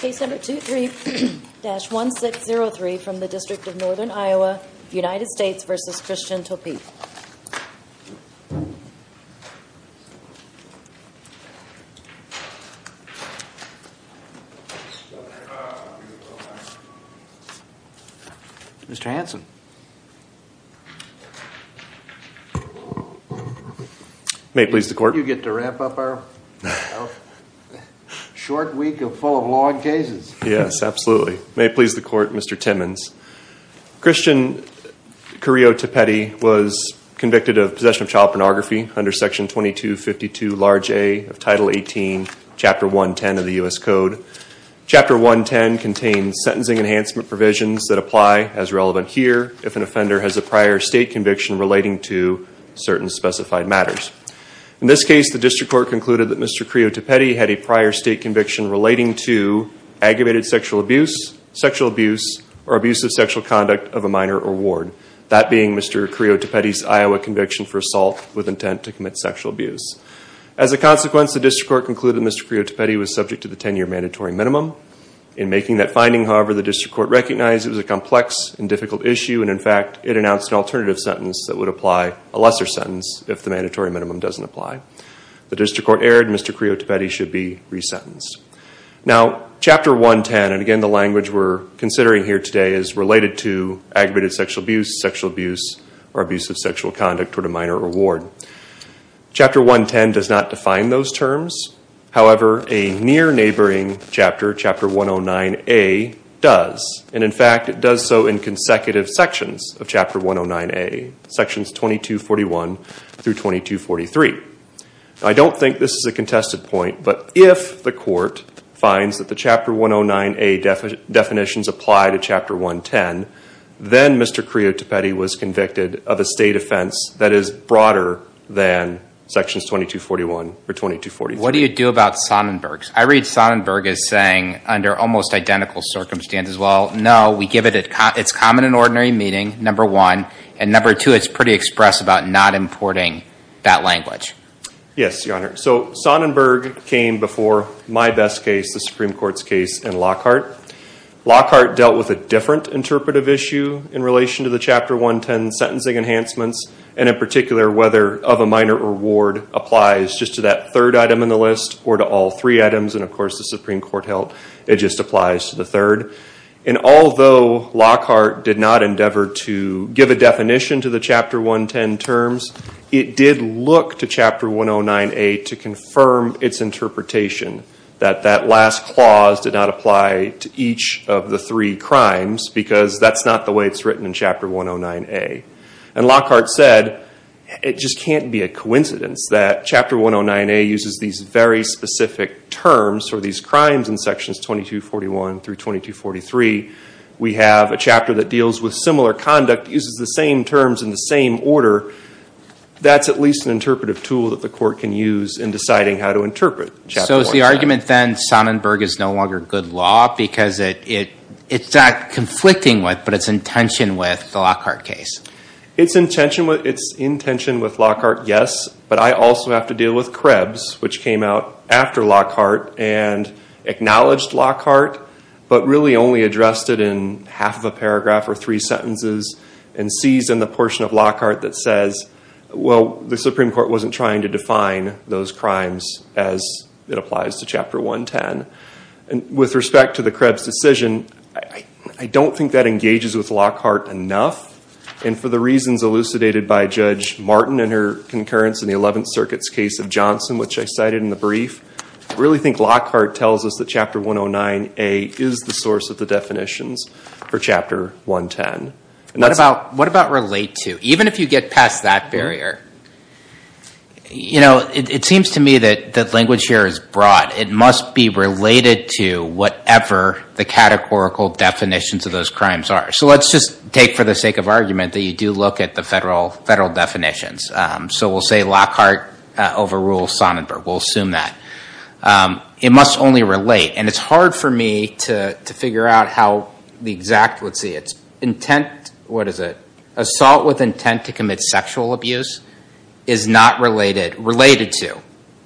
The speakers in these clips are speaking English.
Case number 23-1603 from the District of Northern Iowa, United States v. Christian Topete Mr. Hanson May it please the court. You get to wrap up our short week of full of long cases. Yes, absolutely. May it please the court, Mr. Timmons. Christian Carrillo Topete was convicted of possession of child pornography under section 2252 large A of title 18, chapter 110 of the U.S. Code. Chapter 110 contains sentencing enhancement provisions that apply as relevant here if an offender has a prior state conviction relating to certain specified matters. In this case, the district court concluded that Mr. Carrillo Topete had a prior state conviction relating to aggravated sexual abuse, sexual abuse, or abusive sexual conduct of a minor or ward. That being Mr. Carrillo Topete's Iowa conviction for assault with intent to commit sexual abuse. As a consequence, the district court concluded that Mr. Carrillo Topete was subject to the 10-year mandatory minimum. In making that finding, however, the district court recognized it was a complex and difficult issue. And in fact, it announced an alternative sentence that would apply, a lesser sentence, if the mandatory minimum doesn't apply. The district court erred. Mr. Carrillo Topete should be resentenced. Now, chapter 110, and again the language we're considering here today, is related to aggravated sexual abuse, sexual abuse, or abusive sexual conduct toward a minor or ward. Chapter 110 does not define those terms. However, a near neighboring chapter, chapter 109A, does. And in fact, it does so in consecutive sections of chapter 109A, sections 2241 through 2243. I don't think this is a contested point, but if the court finds that the chapter 109A definitions apply to chapter 110, then Mr. Carrillo Topete was convicted of a state offense that is broader than sections 2241 or 2243. What do you do about Sonnenberg? I read Sonnenberg as saying, under almost identical circumstances, well, no, we give it its common and ordinary meaning, number one. And number two, it's pretty express about not importing that language. Yes, your honor. So Sonnenberg came before my best case, the Supreme Court's case in Lockhart. Lockhart dealt with a different interpretive issue in relation to the chapter 110 sentencing enhancements. And in particular, whether of a minor or ward applies just to that third item in the list, or to all three items. And of course, the Supreme Court held it just applies to the third. And although Lockhart did not endeavor to give a definition to the chapter 110 terms, it did look to chapter 109A to confirm its interpretation. That that last clause did not apply to each of the three crimes, because that's not the way it's written in chapter 109A. And Lockhart said, it just can't be a coincidence that chapter 109A uses these very specific terms for these crimes in sections 2241 through 2243. We have a chapter that deals with similar conduct, uses the same terms in the same order. That's at least an interpretive tool that the court can use in deciding how to interpret. So is the argument then Sonnenberg is no longer good law because it's not conflicting with, but it's in tension with the Lockhart case. It's in tension with Lockhart, yes. But I also have to deal with Krebs, which came out after Lockhart and really only addressed it in half of a paragraph or three sentences. And sees in the portion of Lockhart that says, well, the Supreme Court wasn't trying to define those crimes as it applies to chapter 110. And with respect to the Krebs decision, I don't think that engages with Lockhart enough. And for the reasons elucidated by Judge Martin and her concurrence in the 11th Circuit's case of Johnson, which I cited in the brief. Really think Lockhart tells us that chapter 109A is the source of the definitions for chapter 110. And that's- What about relate to? Even if you get past that barrier, it seems to me that language here is broad. It must be related to whatever the categorical definitions of those crimes are. So let's just take for the sake of argument that you do look at the federal definitions. So we'll say Lockhart overrules Sonnenberg. We'll assume that. It must only relate. And it's hard for me to figure out how the exact, let's see, it's intent, what is it? Assault with intent to commit sexual abuse is not related, related to.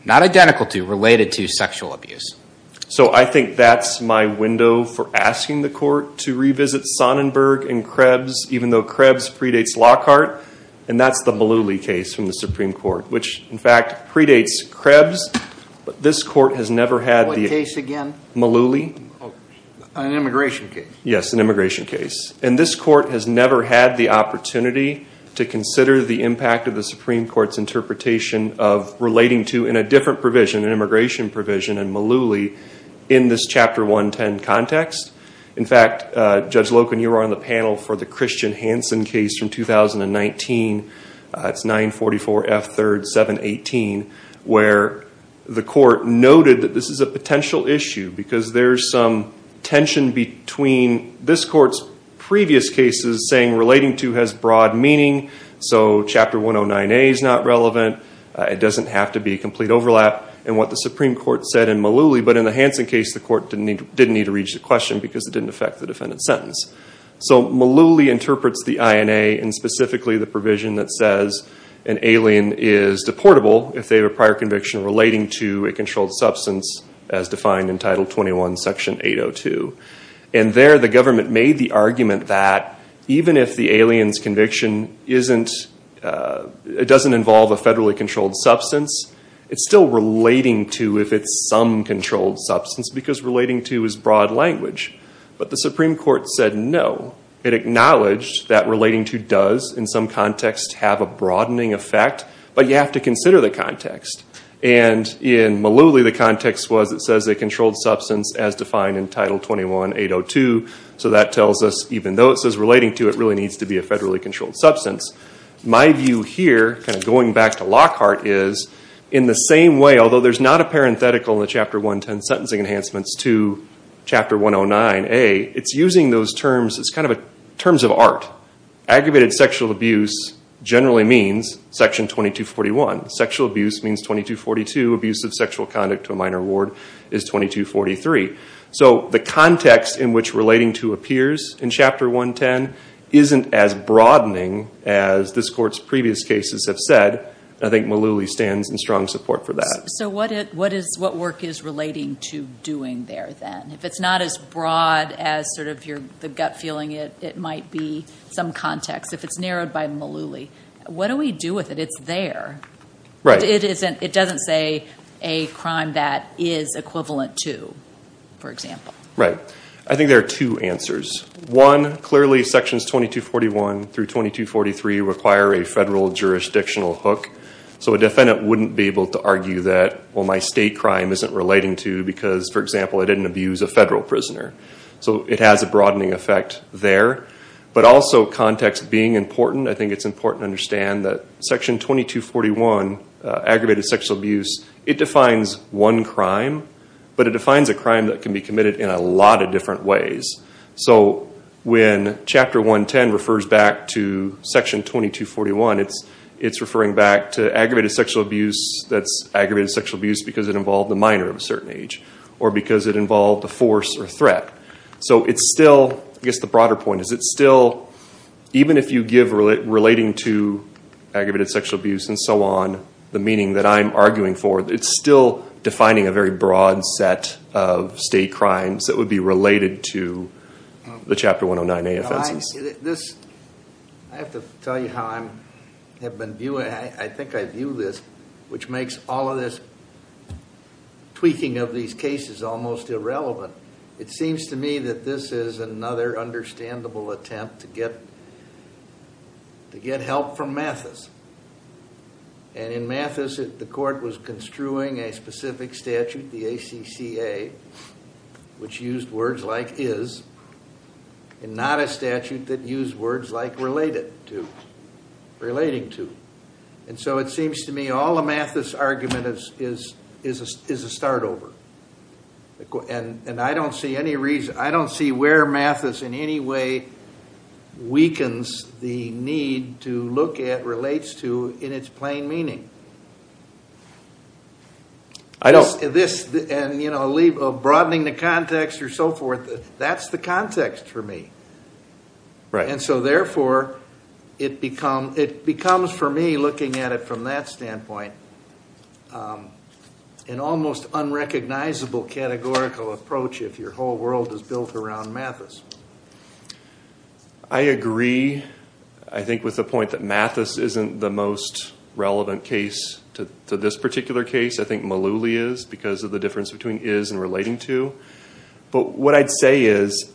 Not identical to, related to sexual abuse. So I think that's my window for asking the court to revisit Sonnenberg and Krebs. Even though Krebs predates Lockhart. And that's the Mullooly case from the Supreme Court, which in fact predates Krebs. But this court has never had the- What case again? Mullooly. An immigration case. Yes, an immigration case. And this court has never had the opportunity to consider the impact of the Supreme Court's interpretation of relating to, in a different provision, an immigration provision, in Mullooly in this chapter 110 context. In fact, Judge Loken, you were on the panel for the Christian Hansen case from 2019. It's 944F3, 718, where the court noted that this is a potential issue. Because there's some tension between this court's previous cases saying relating to has broad meaning. So chapter 109A is not relevant. It doesn't have to be a complete overlap. And what the Supreme Court said in Mullooly, but in the Hansen case, the court didn't need to reach the question because it didn't affect the defendant's sentence. So Mullooly interprets the INA and specifically the provision that says an alien is deportable if they have a prior conviction relating to a controlled substance as defined in Title 21, Section 802. And there, the government made the argument that even if the alien's conviction doesn't involve a federally controlled substance, it's still relating to if it's some controlled substance. Because relating to is broad language. But the Supreme Court said no. It acknowledged that relating to does, in some context, have a broadening effect. But you have to consider the context. And in Mullooly, the context was it says a controlled substance as defined in Title 21, 802. So that tells us even though it says relating to, it really needs to be a federally controlled substance. My view here, going back to Lockhart, is in the same way, although there's not a parenthetical in the Chapter 110 sentencing enhancements to Chapter 109a, it's using those terms as kind of terms of art. Aggravated sexual abuse generally means Section 2241. Sexual abuse means 2242. Abuse of sexual conduct to a minor ward is 2243. So the context in which relating to appears in Chapter 110 isn't as broadening as this court's previous cases have said. I think Mullooly stands in strong support for that. What work is relating to doing there then? If it's not as broad as sort of the gut feeling, it might be some context. If it's narrowed by Mullooly, what do we do with it? It's there. It doesn't say a crime that is equivalent to, for example. Right. I think there are two answers. One, clearly sections 2241 through 2243 require a federal jurisdictional hook. So a defendant wouldn't be able to argue that, well, my state crime isn't relating to because, for example, I didn't abuse a federal prisoner. So it has a broadening effect there. But also context being important, I think it's important to understand that Section 2241, aggravated sexual abuse, it defines one crime. But it defines a crime that can be committed in a lot of different ways. So when Chapter 110 refers back to Section 2241, it's referring back to aggravated sexual abuse that's aggravated sexual abuse because it involved a minor of a certain age or because it involved a force or threat. So it's still, I guess the broader point is it's still, even if you give relating to aggravated sexual abuse and so on, the meaning that I'm arguing for, it's still defining a very broad set of state crimes that would be related to the Chapter 109A offenses. This, I have to tell you how I have been viewing, I think I view this, which makes all of this tweaking of these cases almost irrelevant. It seems to me that this is another understandable attempt to get help from Mathis. And in Mathis, the court was construing a specific statute, the ACCA, which used words like is, and not a statute that used words like related to, relating to. And so it seems to me all of Mathis' argument is a start over. And I don't see any reason, I don't see where Mathis in any way weakens the need to look at relates to in its plain meaning. This, and you know, broadening the context or so forth, that's the context for me. And so therefore, it becomes for me, looking at it from that standpoint, an almost unrecognizable categorical approach if your whole world is built around Mathis. I agree, I think, with the point that Mathis isn't the most relevant case to this particular case. I think Malouli is, because of the difference between is and relating to. But what I'd say is,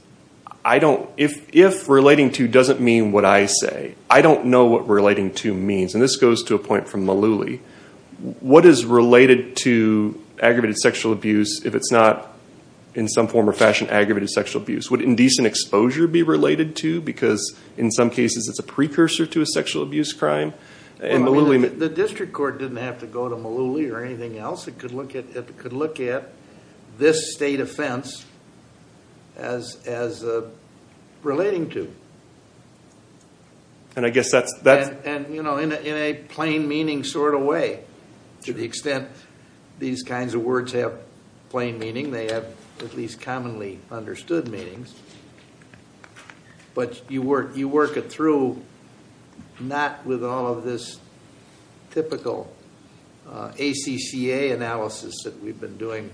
I don't, if relating to doesn't mean what I say, I don't know what relating to means. And this goes to a point from Malouli. What is related to aggravated sexual abuse if it's not in some form or fashion aggravated sexual abuse? Would indecent exposure be related to? Because in some cases it's a precursor to a sexual abuse crime. And Malouli. The district court didn't have to go to Malouli or anything else. It could look at this state offense as relating to. And I guess that's. And you know, in a plain meaning sort of way. To the extent these kinds of words have plain meaning, they have at least commonly understood meanings. But you work it through not with all of this typical ACCA analysis that we've been doing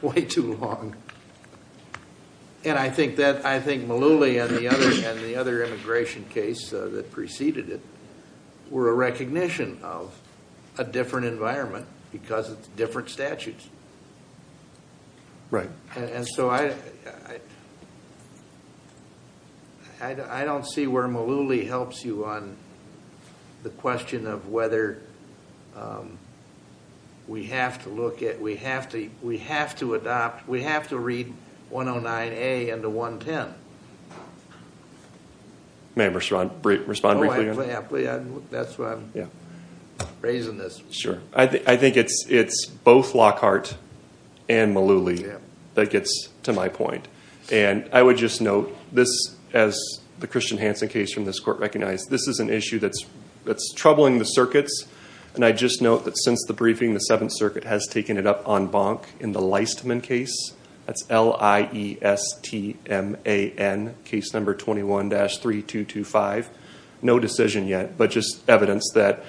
way too long. And I think that, I think Malouli and the other immigration case that preceded it. Were a recognition of a different environment because it's different statutes. Right. And so I don't see where Malouli helps you on the question of whether we have to look at. We have to adopt. We have to read 109A into 110. Ma'am respond briefly. That's why I'm raising this. Sure. I think it's both Lockhart and Malouli that gets to my point. And I would just note this as the Christian Hansen case from this court recognized. This is an issue that's troubling the circuits. And I just note that since the briefing, the Seventh Circuit has taken it up on Bonk in the Leistman case. That's L-I-E-S-T-M-A-N, case number 21-3225. No decision yet. But just evidence that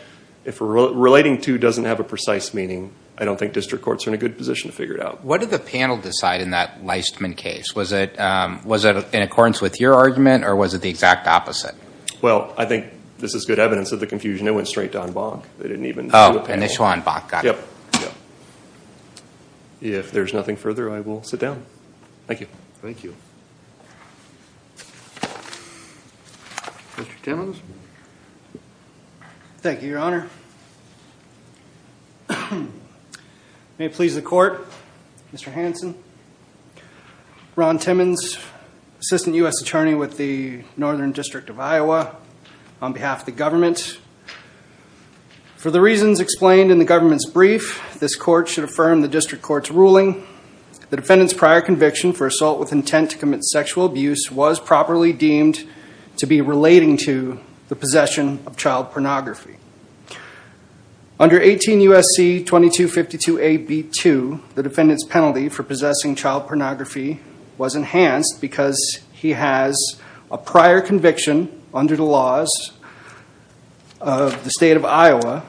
if relating to doesn't have a precise meaning, I don't think district courts are in a good position to figure it out. What did the panel decide in that Leistman case? Was it in accordance with your argument or was it the exact opposite? Well, I think this is good evidence of the confusion. It went straight to on Bonk. They didn't even do a panel. Oh, initial on Bonk. Got it. Yep. If there's nothing further, I will sit down. Thank you. Mr. Timmons. Thank you, Your Honor. May it please the court, Mr. Hansen, Ron Timmons, Assistant U.S. Attorney with the Northern District of Iowa, on behalf of the government. For the reasons explained in the government's brief, this court should affirm the district court's ruling. The defendant's prior conviction for assault with intent to commit sexual abuse was properly deemed to be relating to the possession of child pornography. Under 18 U.S.C. 2252a.b.2, the defendant's penalty for possessing child pornography was enhanced because he has a prior conviction under the laws of the state of Iowa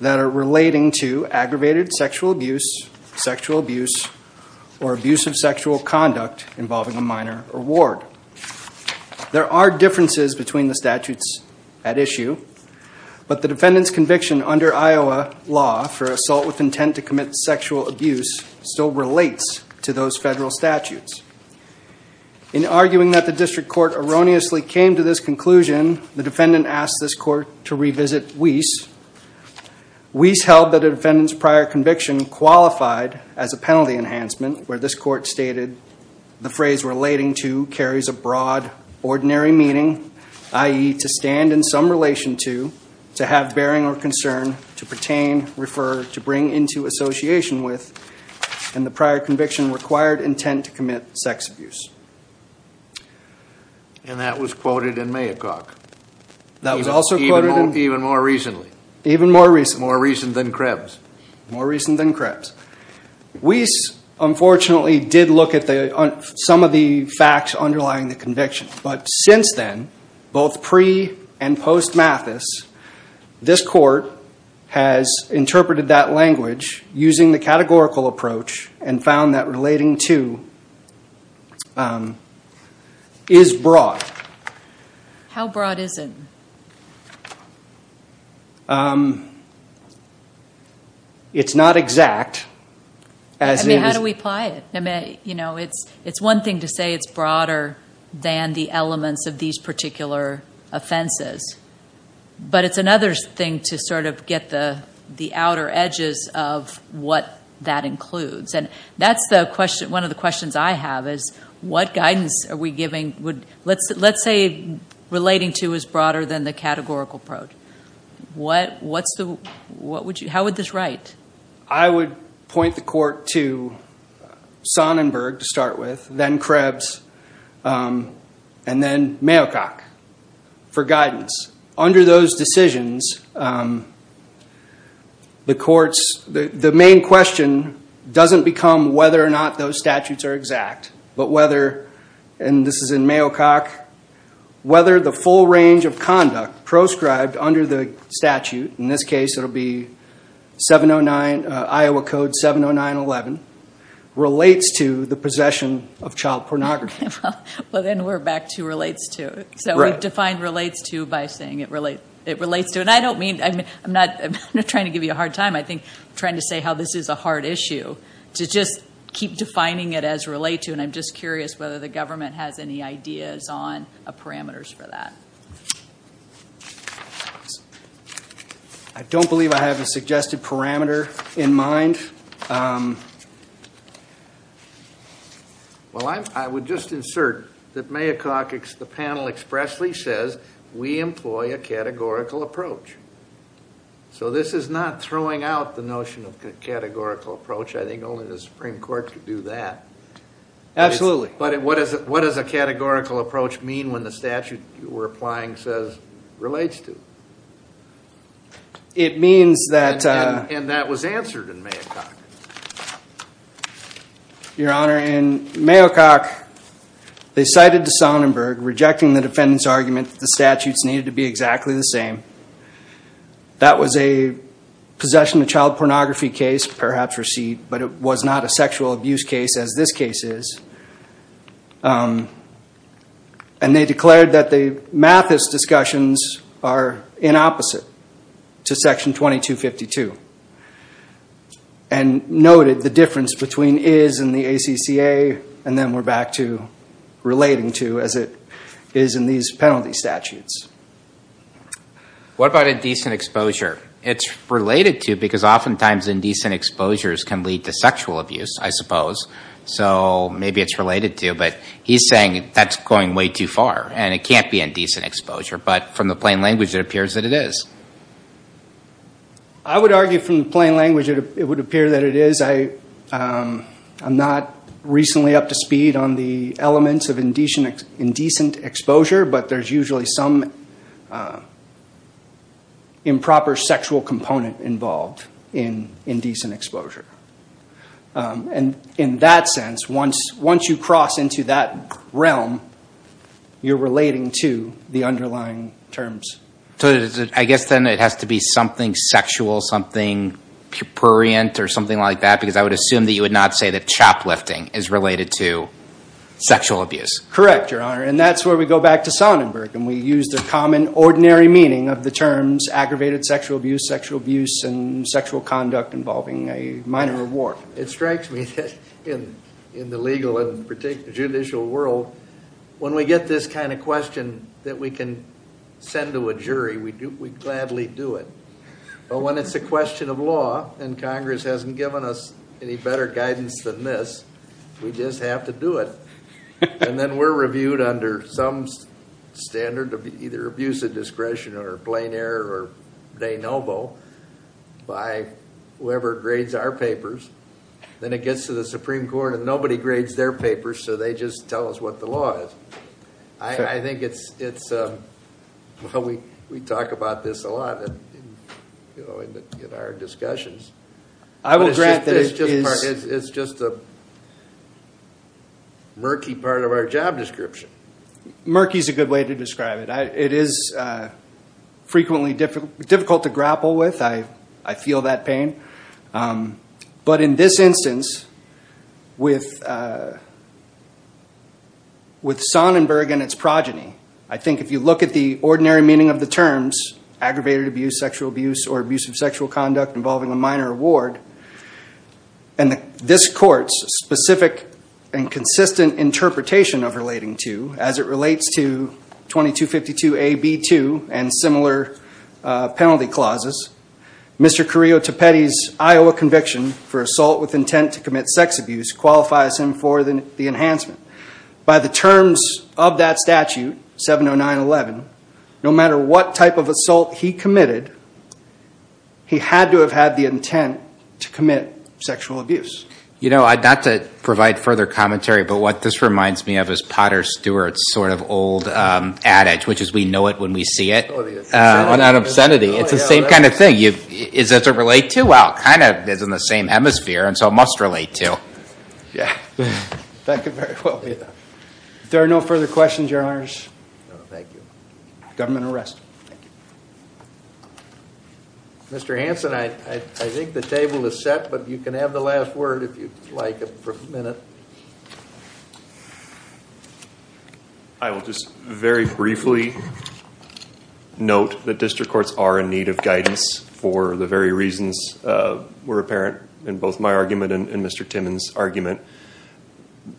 that are relating to aggravated sexual abuse, sexual abuse, or abusive sexual conduct involving a minor or ward. There are differences between the statutes at issue, but the defendant's conviction under Iowa law for assault with intent to commit sexual abuse still relates to those federal statutes. In arguing that the district court erroneously came to this conclusion, the defendant asked this court to revisit Weiss. Weiss held that the defendant's prior conviction qualified as a penalty enhancement, where this court stated the phrase relating to carries a broad, ordinary meaning, i.e., to stand in some relation to, to have bearing or concern, to pertain, refer, to bring into association with, and the prior conviction required intent to commit sex abuse. And that was quoted in Maycock. That was also quoted in... Even more recently. Even more recently. More recent than Krebs. More recent than Krebs. Weiss, unfortunately, did look at some of the facts underlying the conviction, but since then, both pre- and post-Mathis, this court has interpreted that language using the categorical approach and found that relating to is broad. How broad is it? It's not exact. I mean, how do we apply it? You know, it's one thing to say it's broader than the elements of these particular offenses, but it's another thing to sort of get the outer edges of what that includes. And that's one of the questions I have, is what guidance are we giving? Let's say relating to is broader than the categorical approach. What would you... How would this write? I would point the court to Sonnenberg to start with, then Krebs, and then Maycock for guidance. Under those decisions, the courts... The main question doesn't become whether or not those statutes are exact, but whether, and this is in Maycock, whether the full range of conduct proscribed under the statute, in this case it'll be 709, Iowa Code 709-11, relates to the possession of child pornography. Well, then we're back to relates to. So we've defined relates to by saying it relates to. And I don't mean... I'm not trying to give you a hard time. I think I'm trying to say how this is a hard issue, to just keep defining it as relate to. And I'm just curious whether the government has any ideas on parameters for that. I don't believe I have a suggested parameter in mind. Well, I would just insert that Maycock, the panel expressly says, we employ a categorical approach. So this is not throwing out the notion of categorical approach. I think only the Supreme Court could do that. Absolutely. But what does a categorical approach mean when the statute you were applying says relates to? It means that... And that was answered in Maycock. Your Honor, in Maycock, they cited the Sonnenberg rejecting the defendant's argument that the statutes needed to be exactly the same. That was a possession of child pornography case, perhaps receipt, but it was not a sexual abuse case as this case is. And they declared that the Mathis discussions are in opposite. To section 2252. And noted the difference between is and the ACCA, and then we're back to relating to as it is in these penalty statutes. What about indecent exposure? It's related to because oftentimes indecent exposures can lead to sexual abuse, I suppose. So maybe it's related to, but he's saying that's going way too far. And it can't be indecent exposure, but from the plain language, it appears that it is. I would argue from the plain language, it would appear that it is. I'm not recently up to speed on the elements of indecent exposure, but there's usually some improper sexual component involved in indecent exposure. And in that sense, once you cross into that realm, you're relating to the underlying terms. So I guess then it has to be something sexual, something purient, or something like that, because I would assume that you would not say that choplifting is related to sexual abuse. Correct, Your Honor. And that's where we go back to Sonnenberg, and we use the common ordinary meaning of the terms aggravated sexual abuse, sexual abuse, and sexual conduct involving a minor reward. It strikes me that in the legal and judicial world, when we get this kind of question that we can send to a jury, we gladly do it. But when it's a question of law, and Congress hasn't given us any better guidance than this, we just have to do it. And then we're reviewed under some standard of either abuse of discretion or plain error or de novo by whoever grades our papers. Then it gets to the Supreme Court, and nobody grades their papers, so they just tell us what the law is. I think it's, well, we talk about this a lot in our discussions. I will grant that it is. It's just a murky part of our job description. Murky is a good way to describe it. It is frequently difficult to grapple with. I feel that pain. But in this instance, with Sonnenberg and its progeny, I think if you look at the ordinary meaning of the terms aggravated abuse, sexual abuse, or abuse of sexual conduct involving a minor reward, and this court's specific and consistent interpretation of relating to, as it relates to 2252 AB2 and similar penalty clauses, Mr. Carrillo-Tepete's Iowa conviction for assault with intent to commit sex abuse qualifies him for the enhancement. By the terms of that statute, 70911, no matter what type of assault he committed, he had to have had the intent to commit sexual abuse. You know, not to provide further commentary, but what this reminds me of is Potter Stewart's sort of old adage, which is we know it when we see it. On obscenity, it's the same kind of thing. Does it relate to? Well, it kind of is in the same hemisphere, and so it must relate to. Yeah. Thank you very much. If there are no further questions, your honors. Thank you. Government will rest. Thank you. Mr. Hanson, I think the table is set, but you can have the last word if you'd like for a minute. I will just very briefly note that district courts are in need of guidance for the very reasons were apparent in both my argument and Mr. Timmons' argument.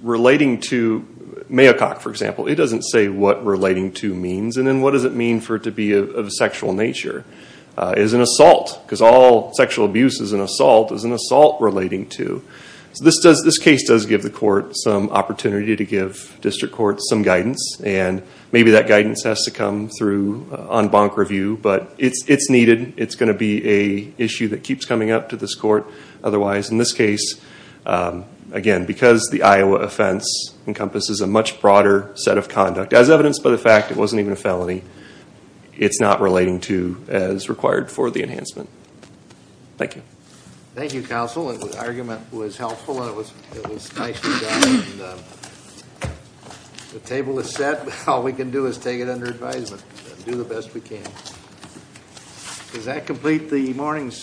Relating to Maycock, for example, it doesn't say what relating to means, and then what does it mean for it to be of a sexual nature? Is an assault, because all sexual abuse is an assault, is an assault relating to? So this case does give the court some opportunity to give district courts some guidance, and maybe that guidance has to come through on bonk review, but it's needed. It's going to be a issue that keeps coming up to this court. Otherwise, in this case, again, because the Iowa offense encompasses a much broader set of conduct, as evidenced by the fact it wasn't even a felony, it's not relating to as required for the enhancement. Thank you. Thank you, counsel. The argument was helpful, and it was nicely done. The table is set. All we can do is take it under advisement and do the best we can. Does that complete the morning's?